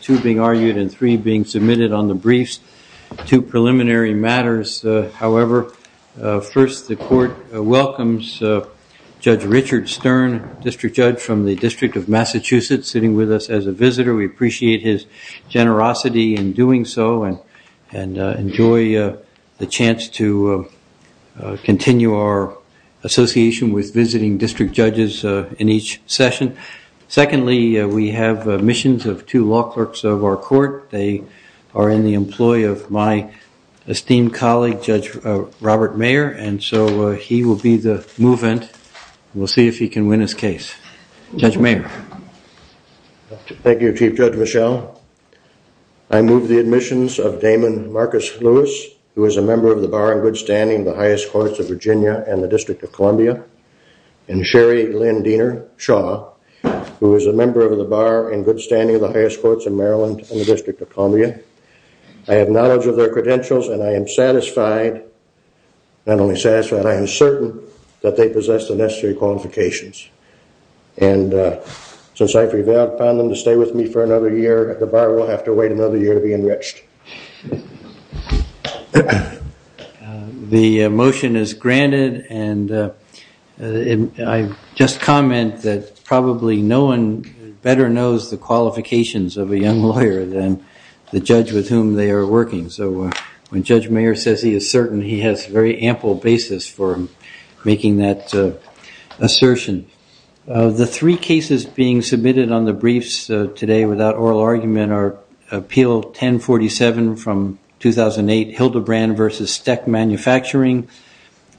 2 being argued and 3 being submitted on the briefs. Two preliminary matters, however, first the court welcomes Judge Richard Stern, District Judge from the District of Massachusetts, sitting with us as a visitor. We appreciate his generosity in doing so and enjoy the chance to continue our association with visiting District Judges in each session. Secondly, we have admissions of two law clerks of our court. They are in the employ of my esteemed colleague, Judge Robert Mayer, and so he will be the move-in. We'll see if he can win his case. Judge Mayer. Thank you, Chief Judge Michel. I move the admissions of Damon Marcus Lewis, who is a member of the bar in good standing in the highest courts of Virginia and the District of Columbia, and Sherry Lynn Diener Shaw, who is a member of the bar in good standing in the highest courts of Maryland and the District of Columbia. I have knowledge of their credentials and I am satisfied, not only satisfied, I am certain that they possess the necessary qualifications. And since I've revaled upon them to stay with me for another year, the bar will have to wait another year to be enriched. The motion is granted and I just comment that probably no one better knows the qualifications of a young lawyer than the judge with whom they are working. So when Judge Mayer says he is certain, he has a very ample basis for making that assertion. The three cases being submitted on the briefs today without oral argument are Appeal 1047 from 2008, Hildebrand v. Steck Manufacturing,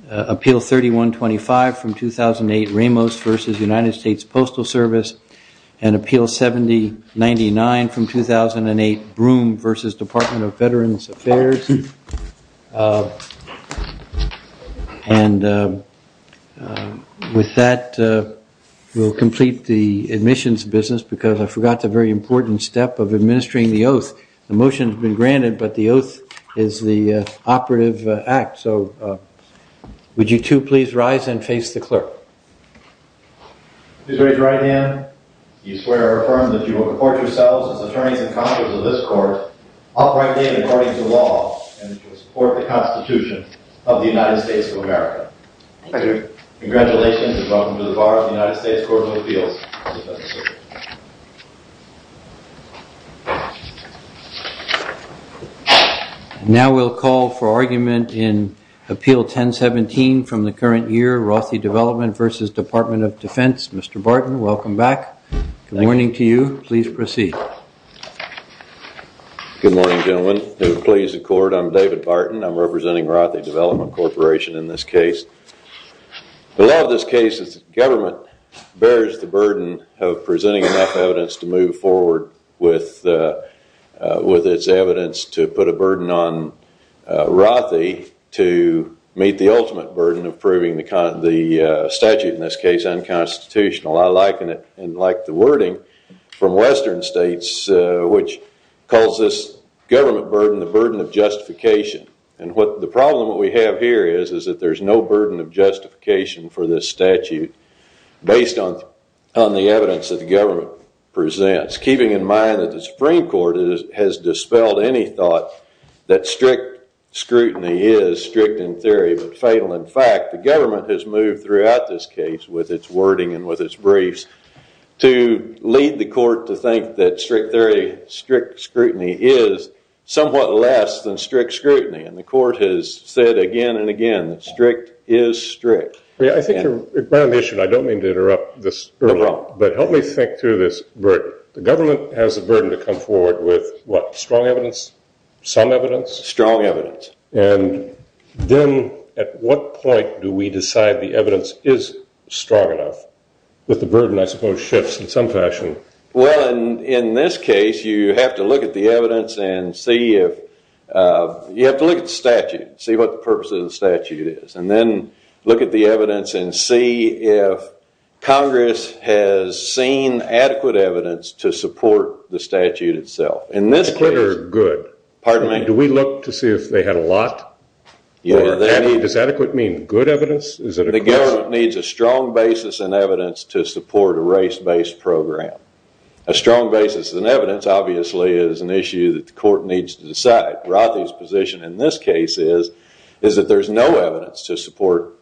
Appeal 3125 from 2008, Ramos v. United States Postal Service, and Appeal 7099 from 2008, Broome v. Department of Veterans Affairs. And with that, we'll complete the admissions business because I forgot the very important step of administering the oath. The motion has been granted but the oath is the operative act. So would you two please rise and face the clerk. Please raise your right hand. Do you swear or affirm that you will report yourselves as attorneys and counselors of this court, uprightly and according to law, and that you will support the Constitution of the United States of America? I do. Congratulations and welcome to the bar of the United States Court of Appeals. Now we'll call for argument in Appeal 1017 from the current year, Rothy Development v. Department of Defense. Mr. Barton, welcome back. Good morning to you. Please proceed. Good morning, gentlemen. I'm David Barton. I'm representing Rothy Development Corporation in this case. The law of this case is that government bears the burden of presenting enough evidence to move forward with its evidence to put a burden on Rothy to meet the ultimate burden of proving the statute in this case unconstitutional. I like the wording from western states which calls this government burden the burden of justification. The problem we have here is that there's no burden of justification for this statute based on the evidence that the government presents, keeping in mind that the Supreme Court has dispelled any thought that strict scrutiny is strict in theory but fatal in fact. The government has moved throughout this case with its wording and with its briefs to lead the court to think that strict scrutiny is somewhat less than strict scrutiny and the court has said again and again that strict is strict. I don't mean to interrupt but help me think through this. The government has a burden to come forward with what? Strong evidence? Some evidence? Strong evidence. And then at what point do we decide the evidence is strong enough with the burden I suppose shifts in some fashion? Well in this case you have to look at the evidence and see if, you have to look at the statute and see what the purpose of the statute is and then look at the evidence and see if Congress has seen adequate evidence to support the statute itself. Does adequate mean good evidence? The government needs a strong basis in evidence to support a race based program. A strong basis in evidence obviously is an issue that the court needs to decide. In fact, Rothy's position in this case is that there is no evidence to support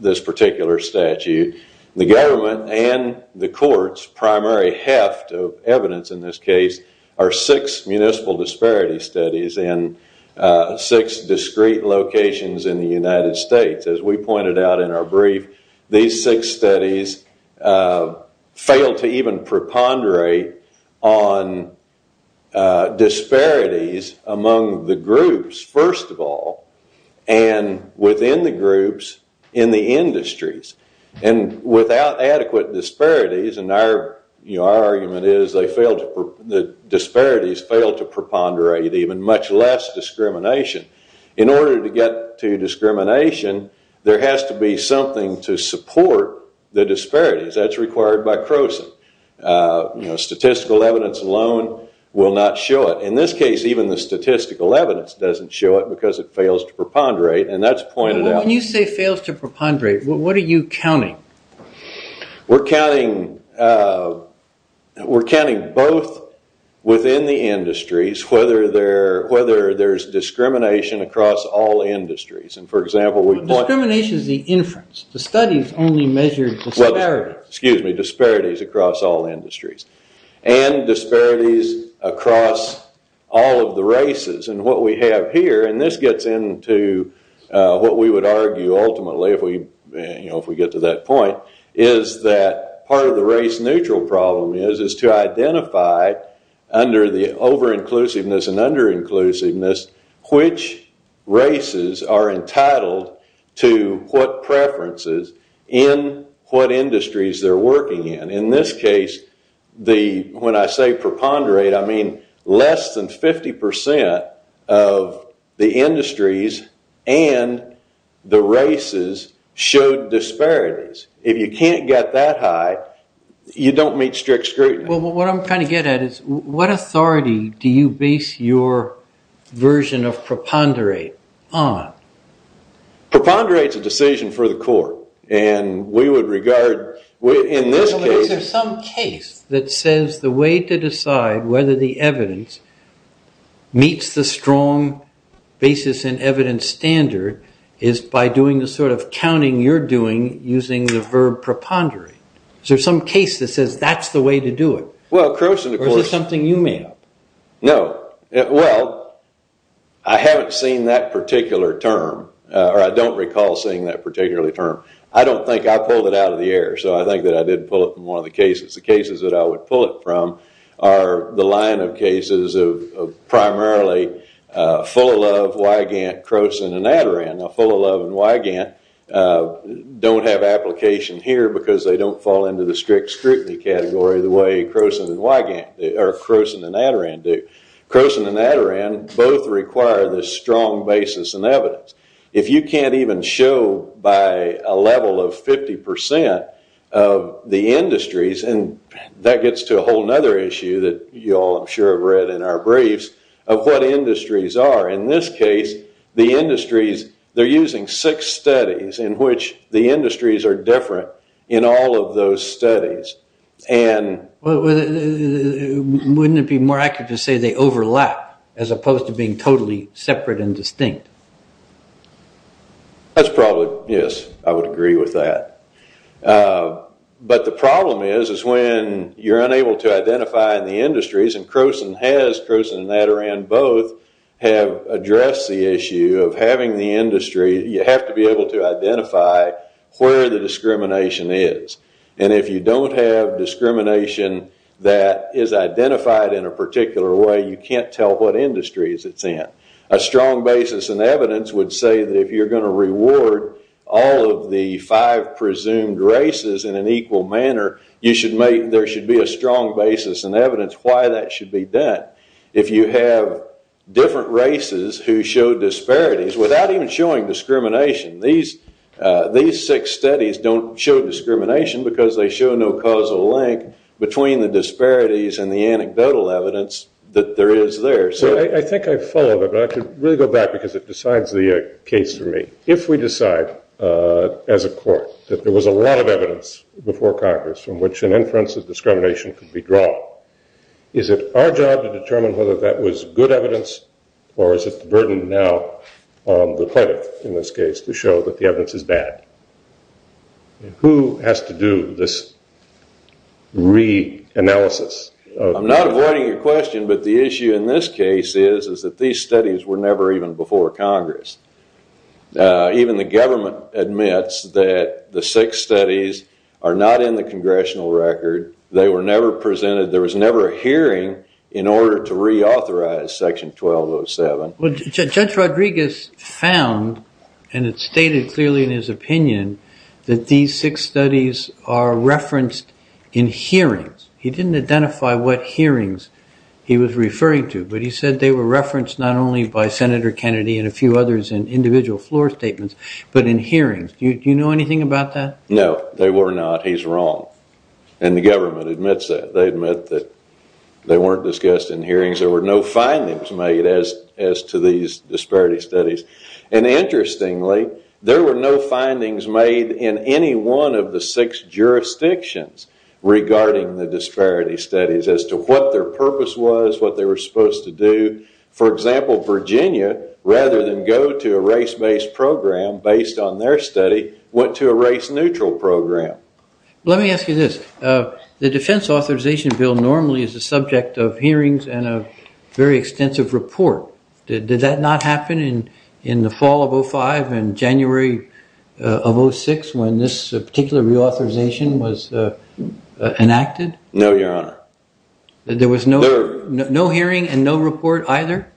this particular statute. The government and the court's primary heft of evidence in this case are six municipal disparity studies in six discrete locations in the United States. As we pointed out in our brief, these six studies fail to even preponderate on disparities among the groups first of all and within the groups in the industries. And without adequate disparities, and our argument is that disparities fail to preponderate even much less discrimination. In order to get to discrimination, there has to be something to support the disparities. That's required by Croson. Statistical evidence alone will not show it. In this case, even the statistical evidence doesn't show it because it fails to preponderate and that's pointed out. When you say fails to preponderate, what are you counting? We're counting both within the industries, whether there's discrimination across all industries. For example... Discrimination is the inference. The studies only measure disparities. Disparities across all industries. And disparities across all of the races. And what we have here, and this gets into what we would argue ultimately if we get to that point, is that part of the race-neutral problem is to identify under the over-inclusiveness and under-inclusiveness which races are entitled to what preferences in what industries they're working in. In this case, when I say preponderate, I mean less than 50% of the industries and the races showed disparities. If you can't get that high, you don't meet strict scrutiny. What I'm trying to get at is what authority do you base your version of preponderate on? Preponderate is a decision for the court. And we would regard, in this case... But is there some case that says the way to decide whether the evidence meets the strong basis in evidence standard is by doing the sort of counting you're doing using the verb preponderate? Is there some case that says that's the way to do it? Well, Crowson, of course... Or is it something you made up? No. Well, I haven't seen that particular term, or I don't recall seeing that particular term. I don't think I pulled it out of the air, so I think that I did pull it from one of the cases. The cases that I would pull it from are the line of cases of primarily Fullilove, Wygant, Crowson, and Adaran. Now, Fullilove and Wygant don't have application here because they don't fall into the strict scrutiny category the way Crowson and Adaran do. Crowson and Adaran both require the strong basis in evidence. If you can't even show by a level of 50% of the industries... And that gets to a whole other issue that you all, I'm sure, have read in our briefs of what industries are. In this case, the industries, they're using six studies in which the industries are different in all of those studies. Wouldn't it be more accurate to say they overlap as opposed to being totally separate and distinct? That's probably... Yes, I would agree with that. But the problem is when you're unable to identify the industries, and Crowson has, Crowson and Adaran both, have addressed the issue of having the industry, you have to be able to identify where the discrimination is. And if you don't have discrimination that is identified in a particular way, you can't tell what industries it's in. A strong basis in evidence would say that if you're going to reward all of the five presumed races in an equal manner, there should be a strong basis in evidence why that should be done. If you have different races who show disparities without even showing discrimination, these six studies don't show discrimination because they show no causal link between the disparities and the anecdotal evidence that there is there. So I think I followed it, but I could really go back because it decides the case for me. If we decide as a court that there was a lot of evidence before Congress from which an inference of discrimination could be drawn, is it our job to determine whether that was good evidence or is it the burden now on the pledge in this case to show that the evidence is bad? Who has to do this re-analysis? I'm not avoiding your question, but the issue in this case is that these studies were never even before Congress. Even the government admits that the six studies are not in the congressional record. They were never presented. There was never a hearing in order to reauthorize section 1207. Judge Rodriguez found, and it's stated clearly in his opinion, that these six studies are referenced in hearings. He didn't identify what hearings he was referring to, but he said they were referenced not only by Senator Kennedy and a few others in individual floor statements, but in hearings. Do you know anything about that? No, they were not. He's wrong. And the government admits that. They admit that they weren't discussed in hearings. There were no findings made as to these disparity studies. Interestingly, there were no findings made in any one of the six jurisdictions regarding the disparity studies as to what their purpose was, what they were supposed to do. For example, Virginia, rather than go to a race-based program based on their study, went to a race-neutral program. Let me ask you this. The defense authorization bill normally is the subject of hearings and a very extensive report. Did that not happen in the fall of 2005 and January of 2006 when this particular reauthorization was enacted? No, Your Honor. There was no hearing and no report either?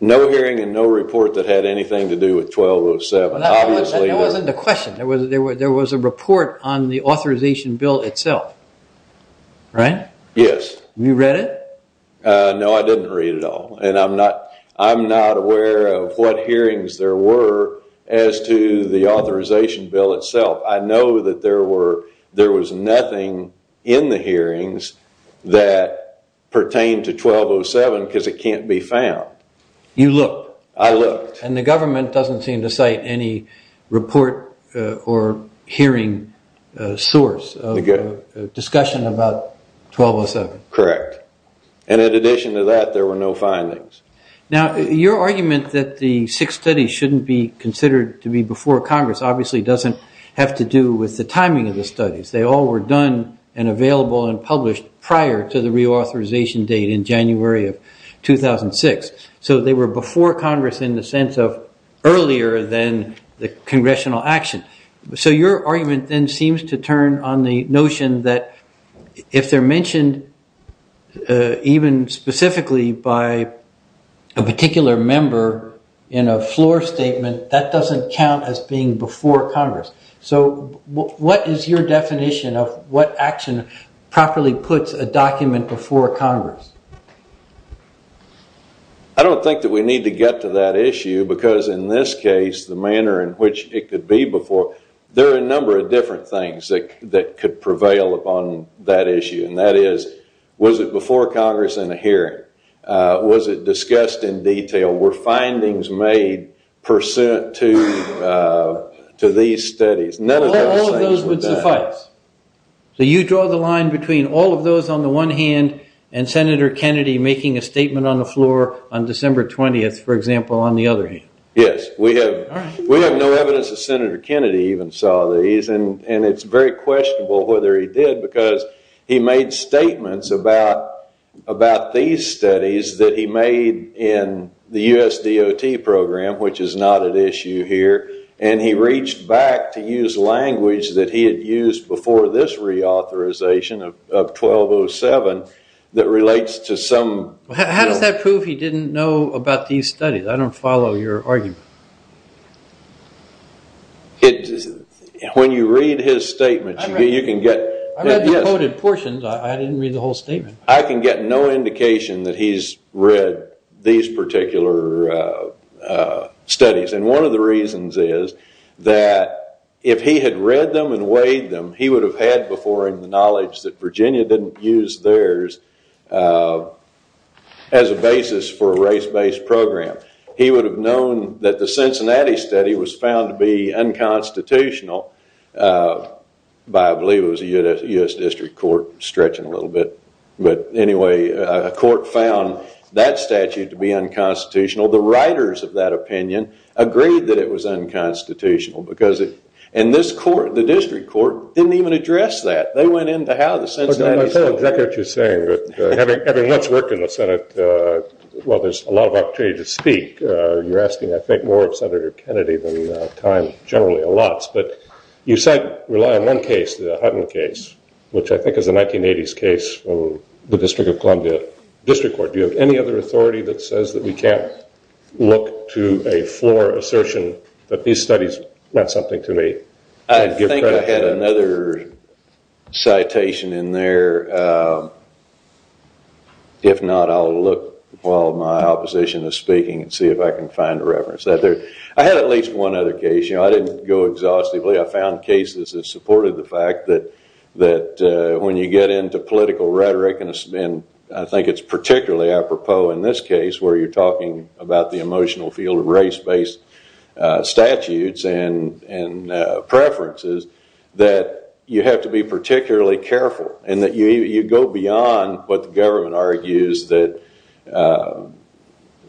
No hearing and no report that had anything to do with 1207. That wasn't the question. There was a report on the authorization bill itself, right? Yes. You read it? No, I didn't read it all. I'm not aware of what hearings there were as to the authorization bill itself. I know that there was nothing in the hearings that pertained to 1207 because it can't be found. You looked? I looked. And the government doesn't seem to cite any report or hearing source of discussion about 1207? Correct. And in addition to that, there were no findings. Now, your argument that the six studies shouldn't be considered to be before Congress obviously doesn't have to do with the timing of the studies. They all were done and available and published prior to the reauthorization date in January of 2006. So they were before Congress in the sense of earlier than the congressional action. So your argument then seems to turn on the notion that if they're mentioned even specifically by a particular member in a floor statement, that doesn't count as being before Congress. So what is your definition of what action properly puts a document before Congress? I don't think that we need to get to that issue because in this case, the manner in which it could be before, there are a number of different things that could prevail upon that issue. And that is, was it before Congress in a hearing? Was it discussed in detail? Were findings made pursuant to these studies? All of those would suffice. So you draw the line between all of those on the one hand and Senator Kennedy making a statement on the floor on December 20th, for example, on the other hand. Yes. We have no evidence that Senator Kennedy even saw these. And it's very questionable whether he did because he made statements about these studies that he made in the U.S. DOT program, which is not at issue here. And he reached back to use language that he had used before this reauthorization of 1207 that relates to some... How does that prove he didn't know about these studies? I don't follow your argument. When you read his statements, you can get... I read the quoted portions. I didn't read the whole statement. I can get no indication that he's read these particular studies. And one of the reasons is that if he had read them and weighed them, he would have had before him the knowledge that Virginia didn't use theirs as a basis for a race-based program. He would have known that the Cincinnati study was found to be unconstitutional by, I believe it was a U.S. District Court, stretching a little bit. But anyway, a court found that statute to be unconstitutional. The writers of that opinion agreed that it was unconstitutional. And this court, the District Court, didn't even address that. They went into how the Cincinnati study... I don't know exactly what you're saying, but having much work in the Senate, well, there's a lot of opportunity to speak. You're asking, I think, more of Senator Kennedy than time generally allots. But you said rely on one case, the Hutton case, which I think is a 1980s case from the District of Columbia District Court. Do you have any other authority that says that we can't look to a floor assertion that these studies meant something to me? I think I had another citation in there. If not, I'll look while my opposition is speaking and see if I can find a reference. I had at least one other case. I didn't go exhaustively. I found cases that supported the fact that when you get into political rhetoric, and I think it's particularly apropos in this case where you're talking about the emotional field of race-based statutes and preferences, that you have to be particularly careful and that you go beyond what the government argues, that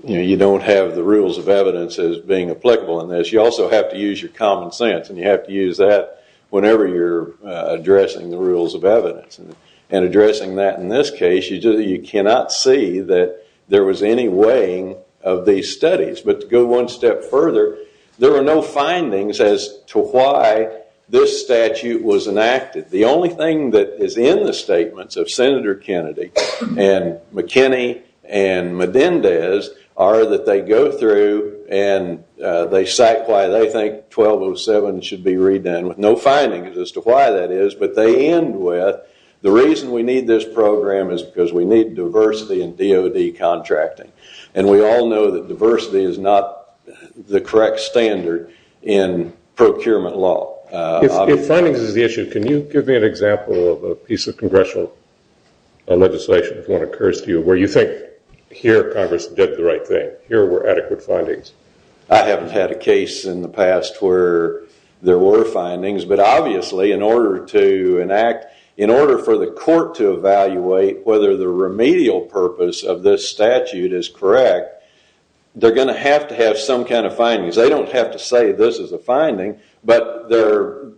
you don't have the rules of evidence as being applicable in this. But you also have to use your common sense and you have to use that whenever you're addressing the rules of evidence. And addressing that in this case, you cannot see that there was any weighing of these studies. But to go one step further, there were no findings as to why this statute was enacted. The only thing that is in the statements of Senator Kennedy and McKinney and Medendez are that they go through and they cite why they think 1207 should be redone with no findings as to why that is, but they end with the reason we need this program is because we need diversity in DOD contracting. And we all know that diversity is not the correct standard in procurement law. If findings is the issue, can you give me an example of a piece of congressional legislation, if one occurs to you, where you think here Congress did the right thing, here were adequate findings? I haven't had a case in the past where there were findings, but obviously in order to enact, in order for the court to evaluate whether the remedial purpose of this statute is correct, they're going to have to have some kind of findings. They don't have to say this is a finding, but their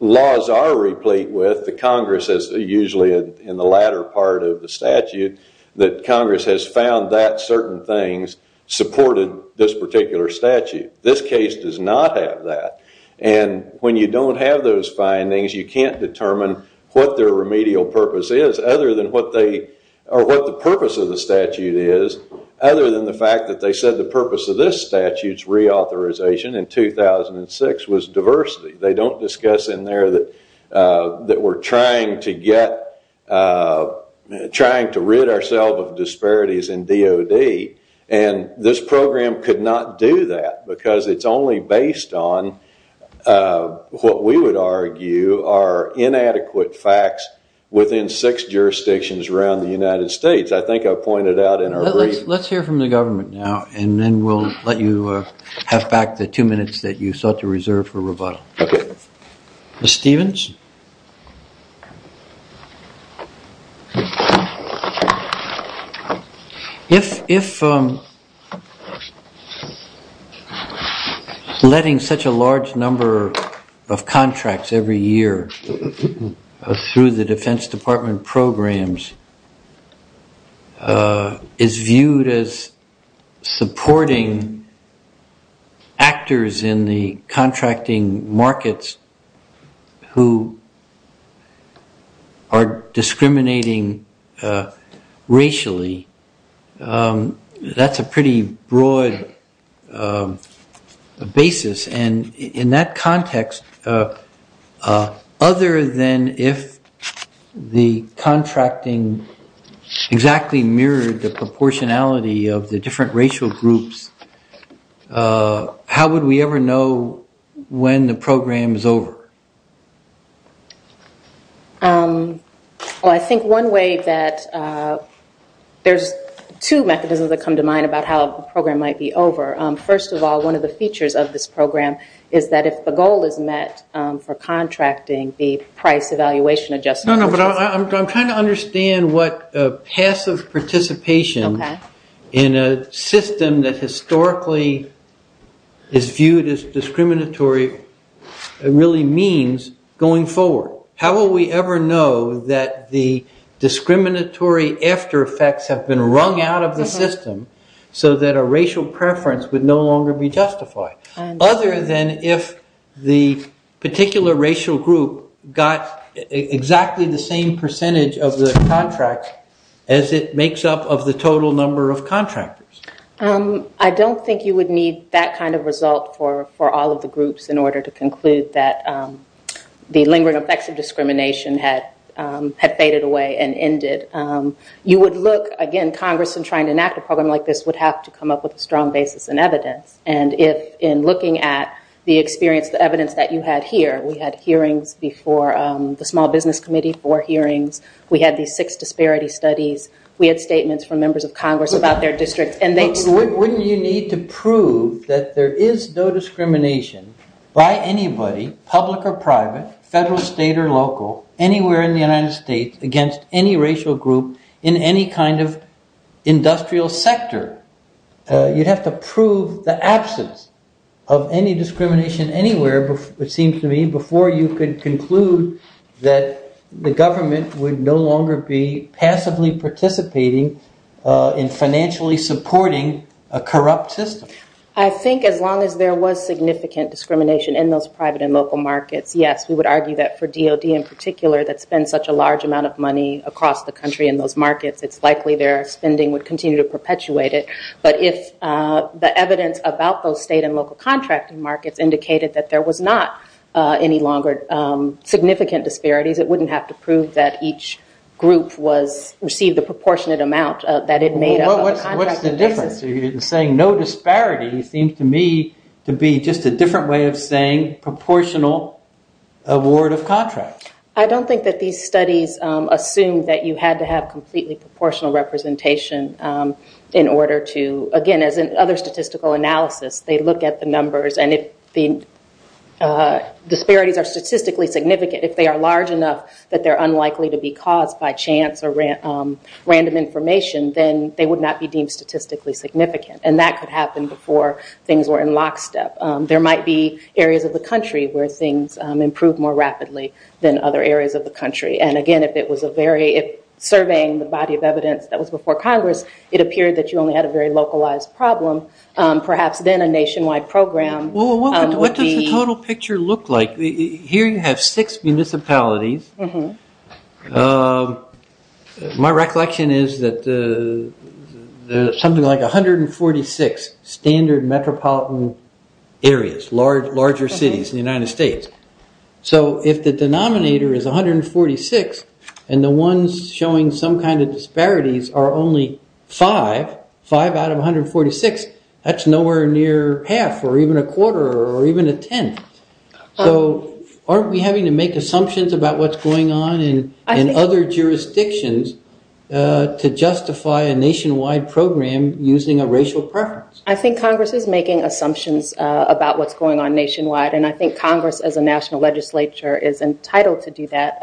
laws are replete with, the Congress is usually in the latter part of the statute, that Congress has found that certain things supported this particular statute. This case does not have that. And when you don't have those findings, you can't determine what their remedial purpose is or what the purpose of the statute is, other than the fact that they said the purpose of this statute's reauthorization in 2006 was diversity. They don't discuss in there that we're trying to rid ourselves of disparities in DOD, and this program could not do that because it's only based on what we would argue are inadequate facts within six jurisdictions around the United States. I think I've pointed out in our brief. Let's hear from the government now, and then we'll let you have back the two minutes that you sought to reserve for rebuttal. Okay. Mr. Stevens? If letting such a large number of contracts every year through the Defense Department programs is viewed as supporting actors in the contracting markets who are discriminating racially, that's a pretty broad basis. And in that context, other than if the contracting exactly mirrored the proportionality of the different racial groups, how would we ever know when the program is over? Well, I think one way that there's two mechanisms that come to mind about how a program might be over. First of all, one of the features of this program is that if the goal is met for contracting, the price evaluation adjustment... No, no, but I'm trying to understand what passive participation in a system that historically is viewed as discriminatory really means going forward. How will we ever know that the discriminatory after effects have been wrung out of the system so that a racial preference would no longer be justified? Other than if the particular racial group got exactly the same percentage of the contract as it makes up of the total number of contractors. I don't think you would need that kind of result for all of the groups in order to conclude that the lingering effects of discrimination had faded away and ended. You would look, again, Congress in trying to enact a program like this would have to come up with a strong basis in evidence. In looking at the experience, the evidence that you had here, we had hearings before the Small Business Committee, four hearings. We had these six disparity studies. We had statements from members of Congress about their districts. Wouldn't you need to prove that there is no discrimination by anybody, public or private, federal, state, or local, anywhere in the United States against any racial group in any kind of industrial sector? You'd have to prove the absence of any discrimination anywhere, it seems to me, before you could conclude that the government would no longer be passively participating in financially supporting a corrupt system. I think as long as there was significant discrimination in those private and local markets, yes, we would argue that for DOD in particular that spends such a large amount of money across the country in those markets, it's likely their spending would continue to perpetuate it. But if the evidence about those state and local contracting markets indicated that there was not any longer significant disparities, it wouldn't have to prove that each group received a proportionate amount that it made up. What's the difference? You're saying no disparity seems to me to be just a different way of saying proportional award of contracts. I don't think that these studies assume that you had to have completely proportional representation in order to, again, as in other statistical analysis, they look at the numbers and if the disparities are statistically significant, if they are large enough that they're unlikely to be caused by chance or random information, then they would not be deemed statistically significant and that could happen before things were in lockstep. There might be areas of the country where things improved more rapidly than other areas of the country. And again, if it was a very, if surveying the body of evidence that was before Congress, it appeared that you only had a very localized problem, perhaps then a nationwide program. What does the total picture look like? Here you have six municipalities. My recollection is that there's something like 146 standard metropolitan areas, larger cities in the United States. So if the denominator is 146 and the ones showing some kind of disparities are only five, five out of 146, that's nowhere near half or even a quarter or even a tenth. So aren't we having to make assumptions about what's going on in other jurisdictions to justify a nationwide program using a racial preference? I think Congress is making assumptions about what's going on nationwide and I think Congress as a national legislature is entitled to do that.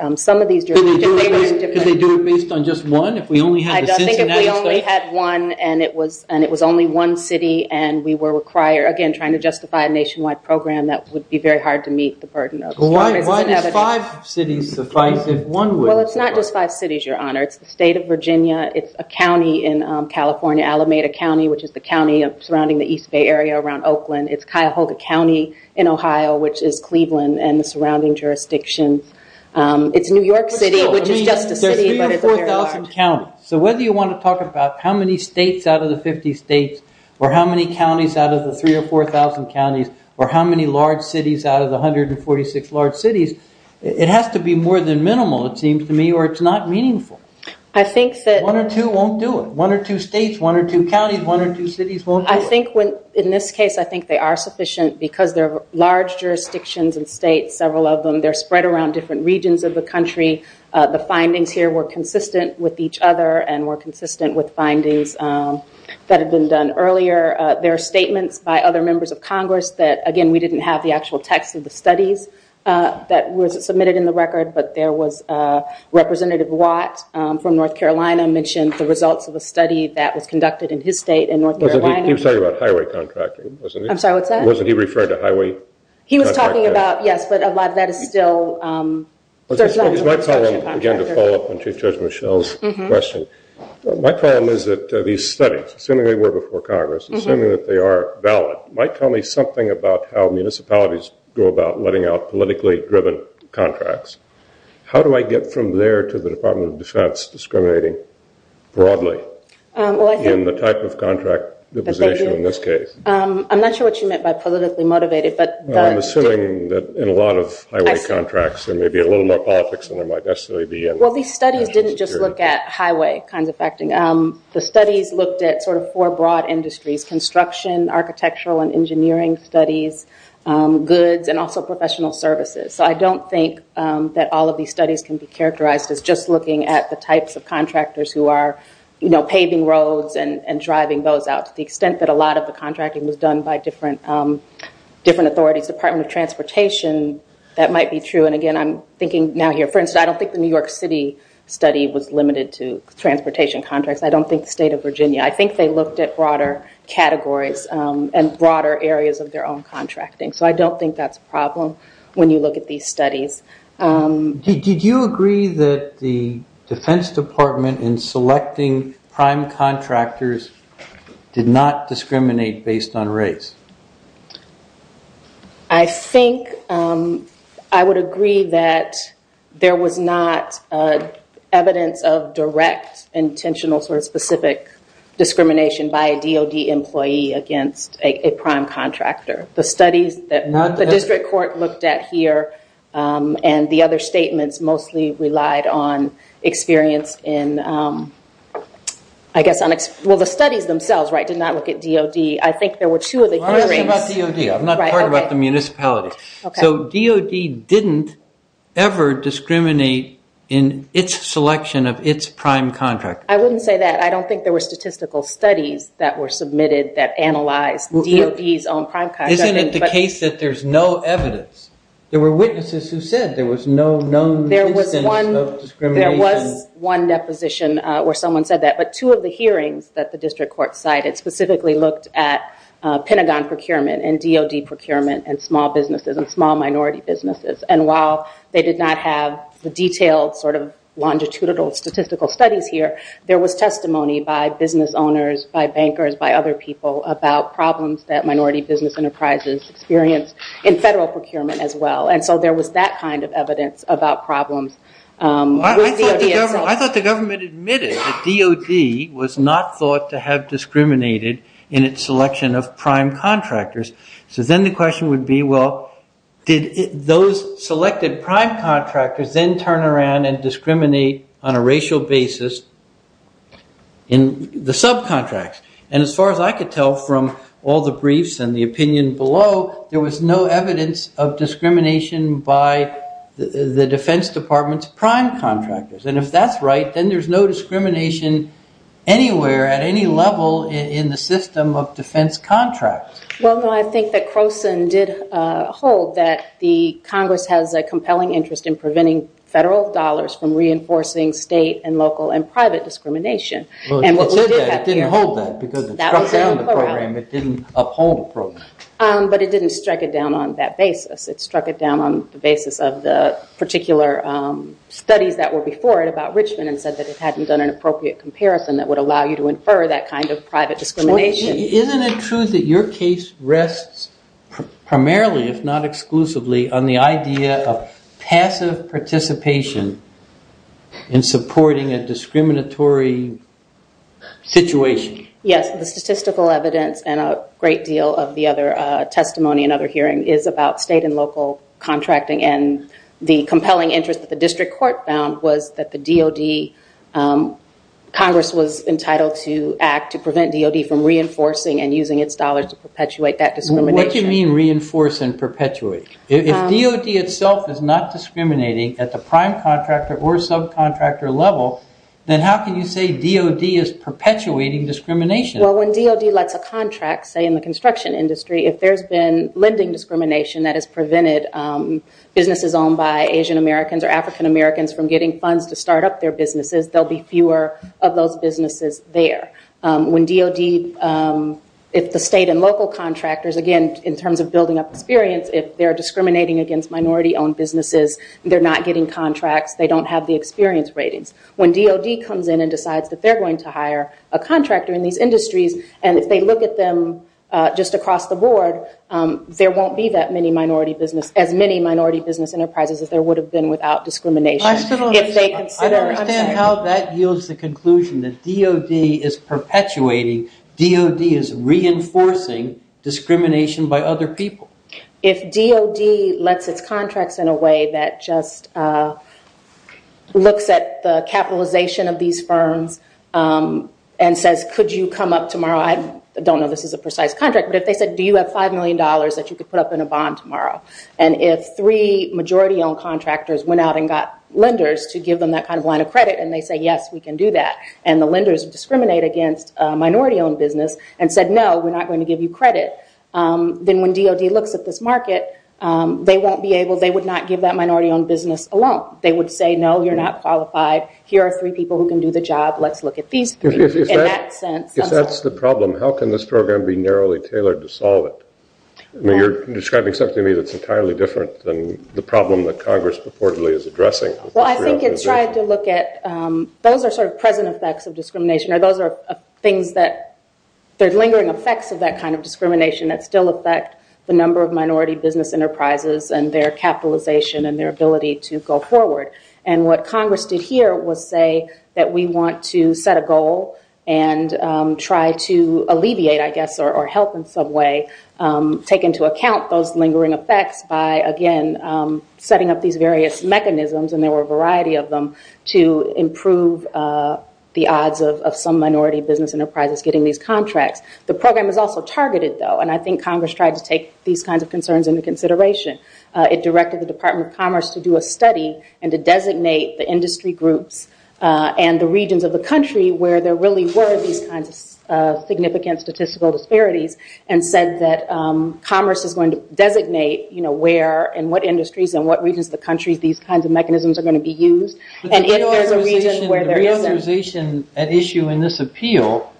Could they do it based on just one? I don't think if we only had one and it was only one city and we were required, again, it would be very hard to meet the burden of Congress's inevitability. Why is five cities suffice if one would? Well, it's not just five cities, Your Honor. It's the state of Virginia, it's a county in California, Alameda County, which is the county surrounding the East Bay area around Oakland. It's Cuyahoga County in Ohio, which is Cleveland and the surrounding jurisdictions. It's New York City, which is just a city, but it's a very large. So whether you want to talk about how many states out of the 50 states or how many counties out of the 3,000 or 4,000 counties or how many large cities out of the 146 large cities, it has to be more than minimal, it seems to me, or it's not meaningful. One or two won't do it. One or two states, one or two counties, one or two cities won't do it. In this case, I think they are sufficient because they're large jurisdictions and states, several of them, they're spread around different regions of the country. The findings here were consistent with each other and were consistent with findings that had been done earlier. There are statements by other members of Congress that, again, we didn't have the actual text of the studies that was submitted in the record, but there was Representative Watt from North Carolina mentioned the results of a study that was conducted in his state in North Carolina. He was talking about highway contracting, wasn't he? I'm sorry, what's that? Wasn't he referring to highway contracting? He was talking about, yes, but a lot of that is still... It's my problem, again, to follow up on Chief Judge Michelle's question. My problem is that these studies, assuming they were before Congress, assuming that they are valid, might tell me something about how municipalities go about letting out politically driven contracts. How do I get from there to the Department of Defense discriminating broadly in the type of contract that was issued in this case? I'm not sure what you meant by politically motivated, but... I'm assuming that in a lot of highway contracts there may be a little more politics than there might necessarily be. Well, these studies didn't just look at highway kinds of factoring. The studies looked at sort of four broad industries, construction, architectural and engineering studies, goods, and also professional services. I don't think that all of these studies can be characterized as just looking at the types of contractors who are paving roads and driving those out to the extent that a lot of the contracting was done by different authorities. Department of Transportation, that might be true. Again, I'm thinking now here. For instance, I don't think the New York City study was limited to transportation contracts. I don't think the state of Virginia. I think they looked at broader categories and broader areas of their own contracting. I don't think that's a problem when you look at these studies. Did you agree that the Defense Department in selecting prime contractors did not discriminate based on race? I think I would agree that there was not evidence of direct, intentional, sort of specific discrimination by a DOD employee against a prime contractor. The studies that the district court looked at here and the other statements mostly relied on experience in, well, the studies themselves did not look at DOD. I think there were two of the hearings. I'm not talking about DOD. I'm not talking about the municipality. So DOD didn't ever discriminate in its selection of its prime contractors. I wouldn't say that. I don't think there were statistical studies that were submitted that analyzed DOD's own prime contractors. Isn't it the case that there's no evidence? There were witnesses who said there was no known instance of discrimination. There was one deposition where someone said that. But two of the hearings that the district court cited specifically looked at Pentagon procurement and DOD procurement and small businesses and small minority businesses. And while they did not have the detailed sort of longitudinal statistical studies here, there was testimony by business owners, by bankers, by other people about problems that minority business enterprises experienced in federal procurement as well. And so there was that kind of evidence about problems with DOD itself. I thought the government admitted that DOD was not thought to have discriminated in its selection of prime contractors. So then the question would be, well, did those selected prime contractors then turn around and discriminate on a racial basis in the subcontracts? And as far as I could tell from all the briefs and the opinion below, there was no evidence of discrimination by the Defense Department's prime contractors. And if that's right, then there's no discrimination anywhere at any level in the system of defense contracts. Well, no, I think that Croson did hold that the Congress has a compelling interest in preventing federal dollars from reinforcing state and local and private discrimination. Well, it said that. It didn't hold that because it struck down the program. It didn't uphold the program. But it didn't strike it down on that basis. It struck it down on the basis of the particular studies that were before it about Richmond and said that it hadn't done an appropriate comparison that would allow you to infer that kind of private discrimination. Isn't it true that your case rests primarily, if not exclusively, on the idea of passive participation in supporting a discriminatory situation? Yes, the statistical evidence and a great deal of the other testimony and other hearing is about state and local contracting. And the compelling interest that the district court found was that the DOD, Congress was entitled to act to prevent DOD from reinforcing and using its dollars to perpetuate that discrimination. What do you mean reinforce and perpetuate? If DOD itself is not discriminating at the prime contractor or subcontractor level, then how can you say DOD is perpetuating discrimination? Well, when DOD lets a contract, say in the construction industry, if there's been lending discrimination that has prevented businesses owned by Asian Americans or African Americans from getting funds to start up their businesses, there will be fewer of those businesses there. When DOD, if the state and local contractors, again, in terms of building up experience, if they're discriminating against minority-owned businesses, they're not getting contracts, they don't have the experience ratings. When DOD comes in and decides that they're going to hire a contractor in these industries and if they look at them just across the board, there won't be as many minority business enterprises as there would have been without discrimination. I don't understand how that yields the conclusion that DOD is perpetuating, DOD is reinforcing discrimination by other people. If DOD lets its contracts in a way that just looks at the capitalization of these firms and says, could you come up tomorrow? I don't know if this is a precise contract, but if they said, do you have $5 million that you could put up in a bond tomorrow? If three majority-owned contractors went out and got lenders to give them that kind of line of credit and they say, yes, we can do that, and the lenders discriminate against minority-owned business and said, no, we're not going to give you credit, then when DOD looks at this market, they would not give that minority-owned business a loan. They would say, no, you're not qualified. Here are three people who can do the job. Let's look at these three in that sense. If that's the problem, how can this program be narrowly tailored to solve it? You're describing something to me that's entirely different than the problem that Congress purportedly is addressing. Well, I think it's trying to look at those are sort of present effects of discrimination, or those are things that there's lingering effects of that kind of discrimination that still affect the number of minority business enterprises and their capitalization and their ability to go forward. And what Congress did here was say that we want to set a goal and try to alleviate, I guess, or help in some way, take into account those lingering effects by, again, setting up these various mechanisms, and there were a variety of them, to improve the odds of some minority business enterprises getting these contracts. The program is also targeted, though, and I think Congress tried to take these kinds of concerns into consideration. It directed the Department of Commerce to do a study and to designate the industry groups and the regions of the country where there really were these kinds of significant statistical disparities and said that Commerce is going to designate where and what industries and what regions of the country these kinds of mechanisms are going to be used, and if there's a region where there isn't. But the reauthorization at issue in this appeal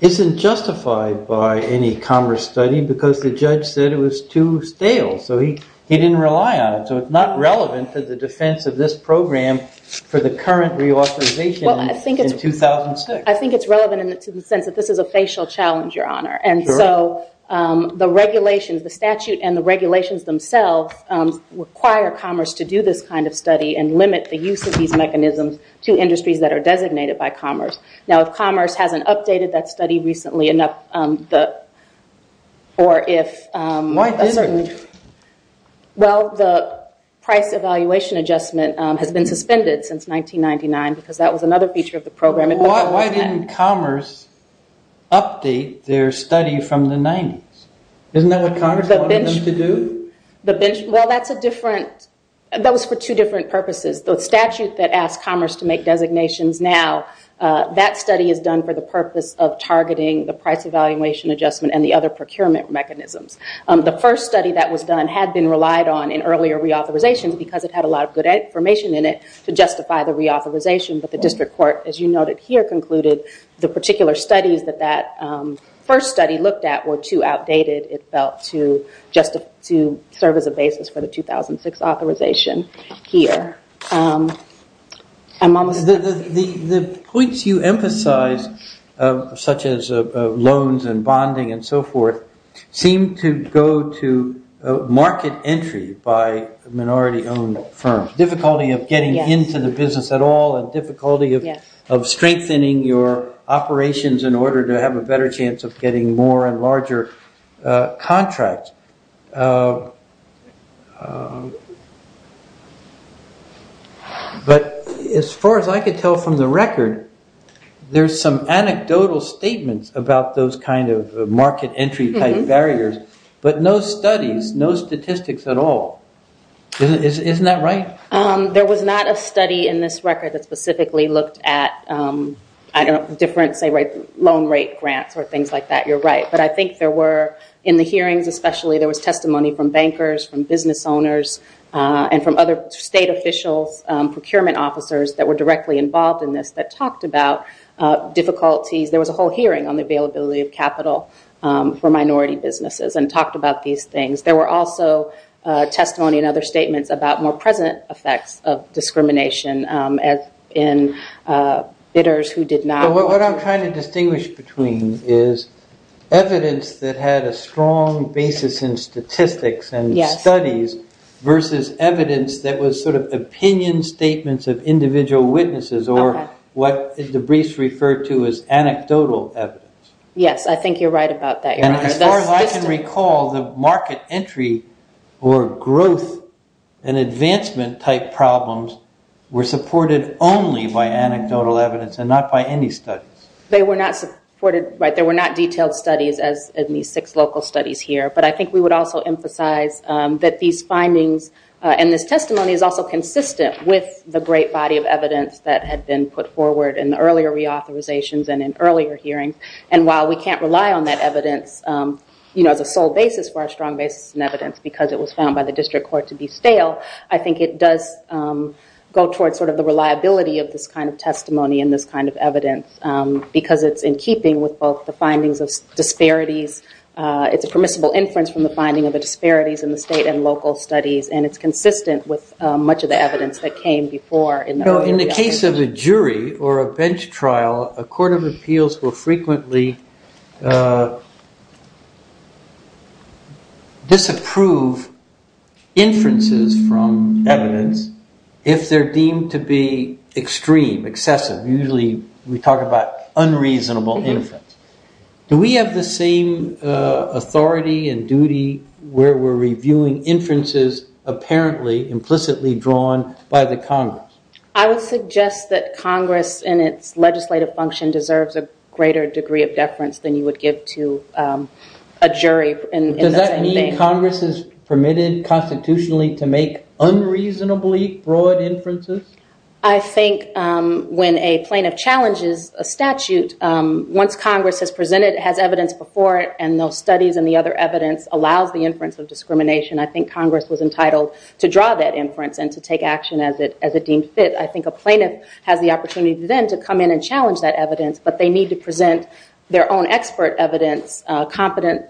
isn't justified by any Commerce study because the judge said it was too stale, so he didn't rely on it. So it's not relevant to the defense of this program for the current reauthorization in 2006. I think it's relevant in the sense that this is a facial challenge, Your Honor, and so the regulations, the statute and the regulations themselves, require Commerce to do this kind of study and limit the use of these mechanisms to industries that are designated by Commerce. Now, if Commerce hasn't updated that study recently enough, or if... Why isn't it? Well, the price evaluation adjustment has been suspended since 1999 because that was another feature of the program. Why didn't Commerce update their study from the 90s? Isn't that what Commerce wanted them to do? Well, that's a different... that was for two different purposes. The statute that asked Commerce to make designations now, that study is done for the purpose of targeting the price evaluation adjustment and the other procurement mechanisms. The first study that was done had been relied on in earlier reauthorizations because it had a lot of good information in it to justify the reauthorization, but the district court, as you noted here, concluded the particular studies that that first study looked at were too outdated, it felt, to serve as a basis for the 2006 authorization here. The points you emphasize, such as loans and bonding and so forth, seem to go to market entry by minority-owned firms, difficulty of getting into the business at all and difficulty of strengthening your operations in order to have a better chance of getting more and larger contracts. But as far as I could tell from the record, there's some anecdotal statements about those kind of market entry type barriers, but no studies, no statistics at all. Isn't that right? There was not a study in this record that specifically looked at, I don't know, different, say, loan rate grants or things like that. You're right. But I think there were, in the hearings especially, there was testimony from bankers, from business owners, and from other state officials, procurement officers that were directly involved in this that talked about difficulties. There was a whole hearing on the availability of capital for minority businesses and talked about these things. There were also testimony and other statements about more present effects of discrimination in bidders who did not... What I'm trying to distinguish between is evidence that had a strong basis in statistics and studies versus evidence that was sort of opinion statements of individual witnesses or what Debris referred to as anecdotal evidence. Yes, I think you're right about that. As far as I can recall, the market entry or growth and advancement type problems were supported only by anecdotal evidence and not by any studies. They were not supported, right. There were not detailed studies as in these six local studies here. But I think we would also emphasize that these findings and this testimony is also consistent with the great body of evidence that had been put forward in the earlier reauthorizations and in earlier hearings. And while we can't rely on that evidence as a sole basis for our strong basis in evidence because it was found by the district court to be stale, I think it does go towards sort of the reliability of this kind of testimony and this kind of evidence because it's in keeping with both the findings of disparities. It's a permissible inference from the finding of the disparities in the state and local studies, and it's consistent with much of the evidence that came before in the earlier reauthorizations. In the case of a jury or a bench trial, a court of appeals will frequently disapprove inferences from evidence if they're deemed to be extreme, excessive. Usually we talk about unreasonable inference. Do we have the same authority and duty where we're reviewing inferences apparently implicitly drawn by the Congress? I would suggest that Congress in its legislative function deserves a greater degree of deference than you would give to a jury in the same bank. Does that mean Congress is permitted constitutionally to make unreasonably broad inferences? I think when a plaintiff challenges a statute, once Congress has presented, has evidence before it, and those studies and the other evidence allows the inference of discrimination, I think Congress was entitled to draw that inference and to take action as it deemed fit. I think a plaintiff has the opportunity then to come in and challenge that evidence, but they need to present their own expert evidence, competent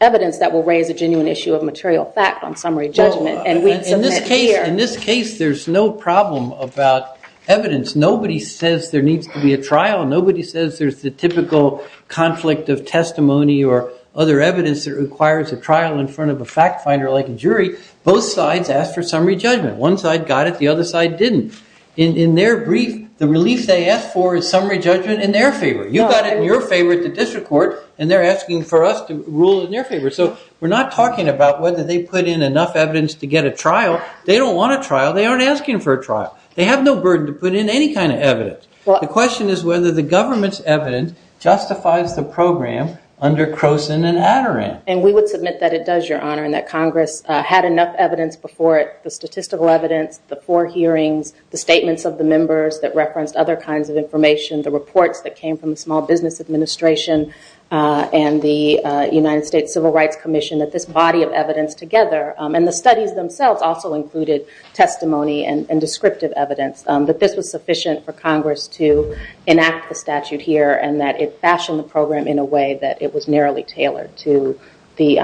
evidence that will raise a genuine issue of material fact on summary judgment. In this case, there's no problem about evidence. Nobody says there needs to be a trial. Nobody says there's the typical conflict of testimony or other evidence that requires a trial in front of a fact finder like a jury. Both sides asked for summary judgment. One side got it, the other side didn't. In their brief, the relief they asked for is summary judgment in their favor. You got it in your favor at the district court, and they're asking for us to rule in their favor. We're not talking about whether they put in enough evidence to get a trial. They don't want a trial. They aren't asking for a trial. They have no burden to put in any kind of evidence. The question is whether the government's evidence justifies the program under Croson and Adderam. We would submit that it does, Your Honor, and that Congress had enough evidence before it, the statistical evidence, the four hearings, the statements of the members that referenced other kinds of information, the reports that came from the Small Business Administration and the United States Civil Rights Commission that this body of evidence together, and the studies themselves also included testimony and descriptive evidence, that this was sufficient for Congress to enact the statute here and that it fashioned the program in a way that it was narrowly tailored to the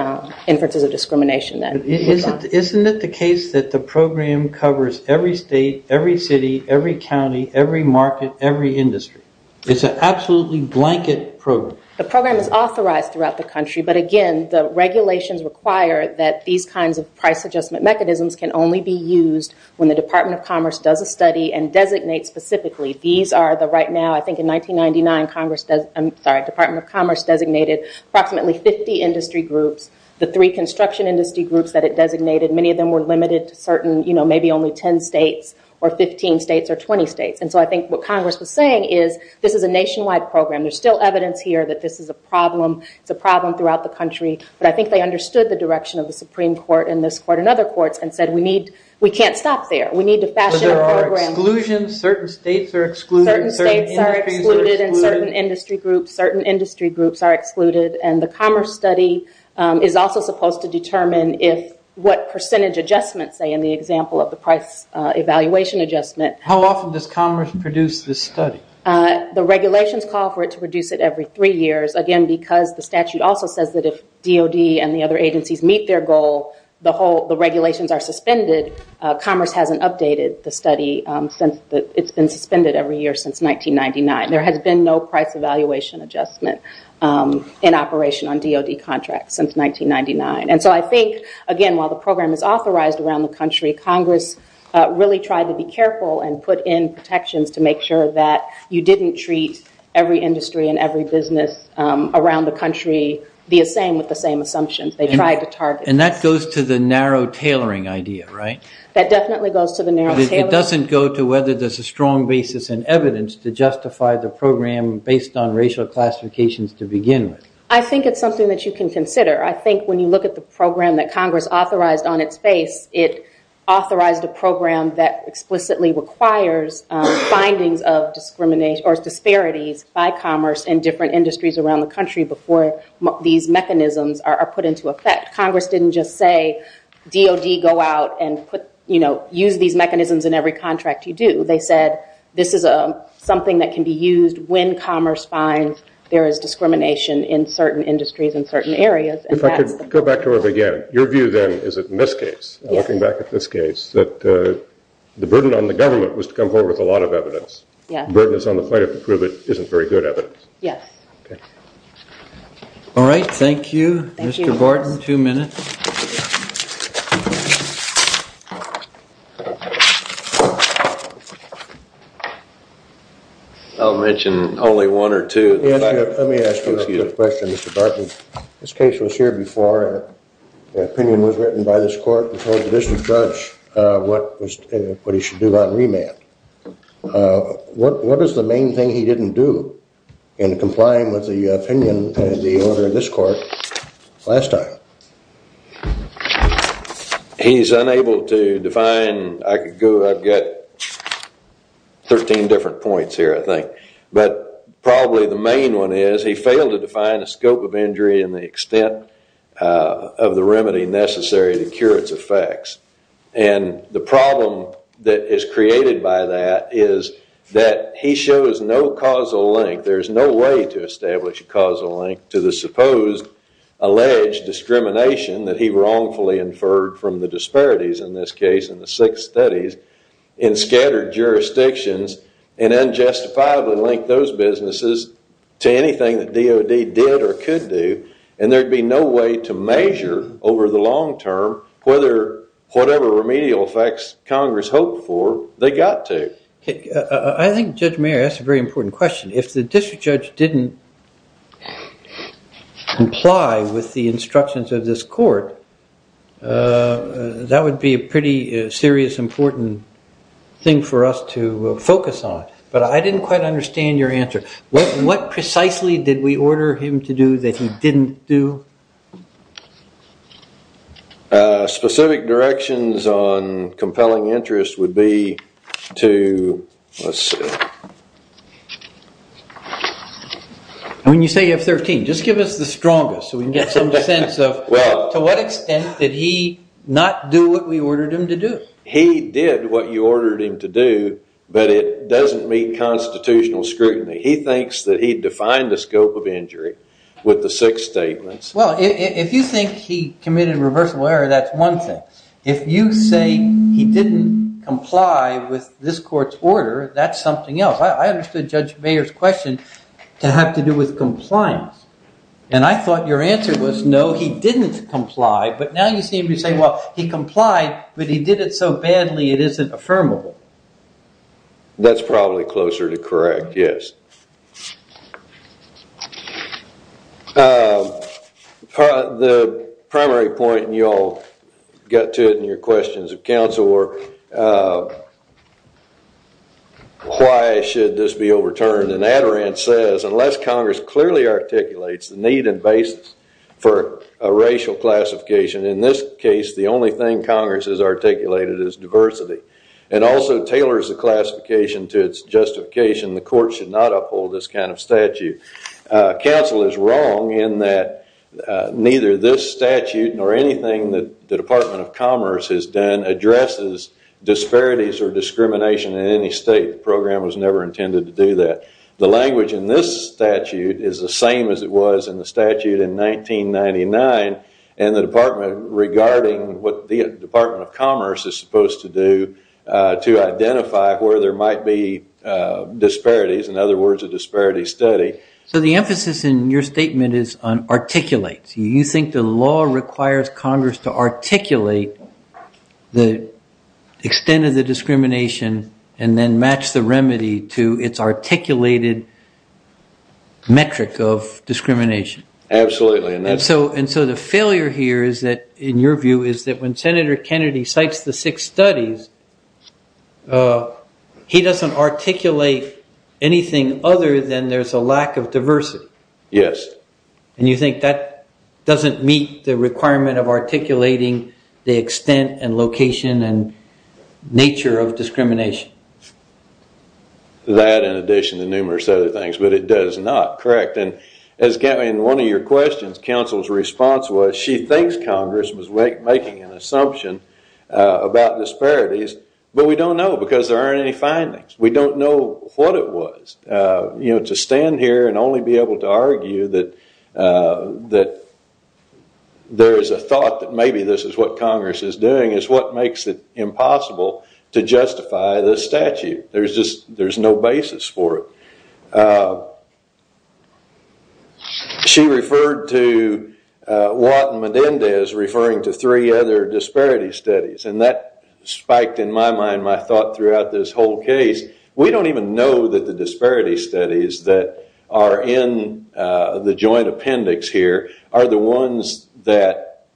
inferences of discrimination. Isn't it the case that the program covers every state, every city, every county, every market, every industry? It's an absolutely blanket program. The program is authorized throughout the country, but again, the regulations require that these kinds of price adjustment mechanisms can only be used when the Department of Commerce does a study and designates specifically. These are the right now, I think in 1999, Department of Commerce designated approximately 50 industry groups, the three construction industry groups that it designated. Many of them were limited to certain, maybe only 10 states or 15 states or 20 states, and so I think what Congress was saying is this is a nationwide program. There's still evidence here that this is a problem. It's a problem throughout the country, but I think they understood the direction of the Supreme Court and this court and other courts and said we can't stop there. We need to fashion a program. But there are exclusions. Certain states are excluded. Certain states are excluded and certain industry groups are excluded, and the Commerce study is also supposed to determine what percentage adjustments, say in the example of the price evaluation adjustment. How often does Commerce produce this study? The regulations call for it to produce it every three years, again, because the statute also says that if DOD and the other agencies meet their goal, the regulations are suspended. Commerce hasn't updated the study since it's been suspended every year since 1999. There has been no price evaluation adjustment. in operation on DOD contracts since 1999, and so I think, again, while the program is authorized around the country, Congress really tried to be careful and put in protections to make sure that you didn't treat every industry and every business around the country the same with the same assumptions. They tried to target. And that goes to the narrow tailoring idea, right? That definitely goes to the narrow tailoring idea. But it doesn't go to whether there's a strong basis in evidence to justify the program based on racial classifications to begin with. I think it's something that you can consider. I think when you look at the program that Congress authorized on its face, it authorized a program that explicitly requires findings of disparities by Commerce in different industries around the country before these mechanisms are put into effect. Congress didn't just say, DOD, go out and use these mechanisms in every contract you do. They said this is something that can be used when Commerce finds there is discrimination in certain industries and certain areas. If I could go back to it again. Your view, then, is that in this case, looking back at this case, that the burden on the government was to come forward with a lot of evidence. Yes. The burden that's on the plaintiff to prove it isn't very good evidence. Yes. Okay. All right. Thank you, Mr. Gordon. Thank you. Two minutes. I'll mention only one or two. Let me ask you a question, Mr. Barton. This case was here before. The opinion was written by this court and told the district judge what he should do on remand. What is the main thing he didn't do in complying with the opinion of the owner of this court last time? He's unable to define. I've got 13 different points here, I think. But probably the main one is he failed to define the scope of injury and the extent of the remedy necessary to cure its effects. And the problem that is created by that is that he shows no causal link. There's no way to establish a causal link to the supposed alleged discrimination that he wrongfully inferred from the disparities in this case in the six studies in scattered jurisdictions and unjustifiably linked those businesses to anything that DOD did or could do. And there'd be no way to measure over the long term whether whatever remedial effects Congress hoped for, they got to. I think Judge Mayer, that's a very important question. If the district judge didn't comply with the instructions of this court, that would be a pretty serious, important thing for us to focus on. But I didn't quite understand your answer. What precisely did we order him to do that he didn't do? Specific directions on compelling interest would be to, let's see. When you say you have 13, just give us the strongest so we can get some sense of to what extent did he not do what we ordered him to do? He did what you ordered him to do, but it doesn't meet constitutional scrutiny. He thinks that he defined the scope of injury with the six statements Well, if you think he committed a reversible error, that's one thing. If you say he didn't comply with this court's order, that's something else. I understood Judge Mayer's question to have to do with compliance. And I thought your answer was no, he didn't comply, but now you seem to say, well, he complied, but he did it so badly it isn't affirmable. That's probably closer to correct, yes. The primary point, and you all got to it in your questions of counsel, were why should this be overturned? And Adaran says, unless Congress clearly articulates the need and basis for a racial classification, in this case the only thing Congress has articulated is diversity, and also tailors the classification to its justification, the court should not uphold this kind of statute. Counsel is wrong in that neither this statute nor anything that the Department of Commerce has done addresses disparities or discrimination in any state. The program was never intended to do that. The language in this statute is the same as it was in the statute in 1999, and the department regarding what the Department of Commerce is supposed to do to identify where there might be disparities, in other words, a disparity study. So the emphasis in your statement is on articulates. You think the law requires Congress to articulate the extent of the discrimination and then match the remedy to its articulated metric of discrimination. Absolutely. And so the failure here is that, in your view, is that when Senator Kennedy cites the six studies, he doesn't articulate anything other than there's a lack of diversity. Yes. And you think that doesn't meet the requirement of articulating the extent and location and nature of discrimination. That in addition to numerous other things, but it does not, correct. In one of your questions, counsel's response was she thinks Congress was making an assumption about disparities, but we don't know because there aren't any findings. We don't know what it was. To stand here and only be able to argue that there is a thought that maybe this is what Congress is doing is what makes it impossible to justify this statute. There's just no basis for it. She referred to Watt and Medendez referring to three other disparity studies, and that spiked in my mind my thought throughout this whole case. We don't even know that the disparity studies that are in the joint appendix here are the ones that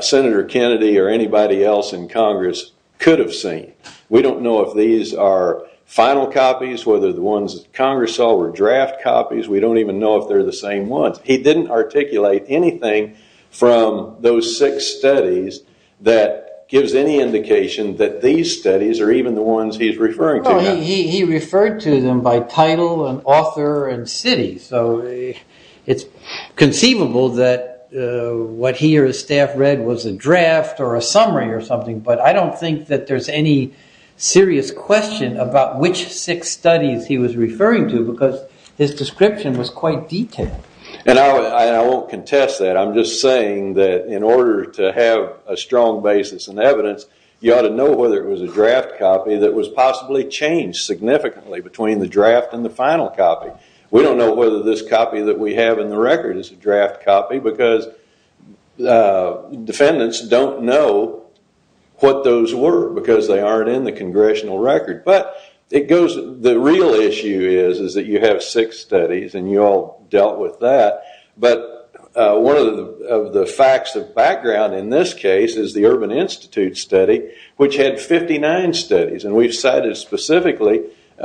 Senator Kennedy or anybody else in Congress could have seen. We don't know if these are final copies, whether the ones Congress saw were draft copies. We don't even know if they're the same ones. He didn't articulate anything from those six studies that gives any indication that these studies are even the ones he's referring to now. He referred to them by title and author and city, so it's conceivable that what he or his staff read was a draft or a summary or something, but I don't think that there's any serious question about which six studies he was referring to because his description was quite detailed. And I won't contest that. I'm just saying that in order to have a strong basis in evidence, you ought to know whether it was a draft copy that was possibly changed significantly between the draft and the final copy. We don't know whether this copy that we have in the record is a draft copy because defendants don't know what those were because they aren't in the congressional record. But the real issue is that you have six studies and you all dealt with that, but one of the facts of background in this case is the Urban Institute study, which had 59 studies, and we've cited specifically... Isn't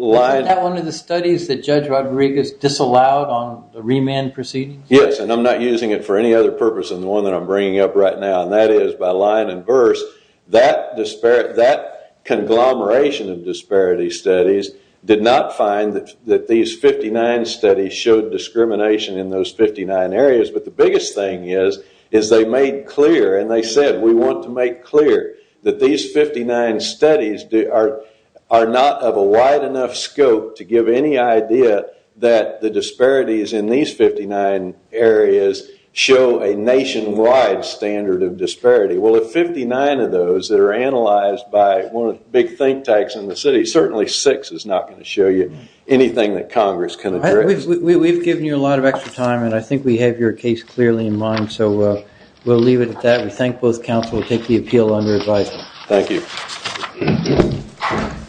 that one of the studies that Judge Rodriguez disallowed on the remand proceedings? Yes, and I'm not using it for any other purpose than the one that I'm bringing up right now, and that is by line and verse, that conglomeration of disparity studies did not find that these 59 studies showed discrimination in those 59 areas, but the biggest thing is they made clear and they said, we want to make clear that these 59 studies are not of a wide enough scope to give any idea that the disparities in these 59 areas show a nationwide standard of disparity. Well, of 59 of those that are analyzed by one of the big think tanks in the city, certainly six is not going to show you anything that Congress can address. We've given you a lot of extra time, and I think we have your case clearly in mind, so we'll leave it at that. We thank both counsel and take the appeal under advisement. Thank you.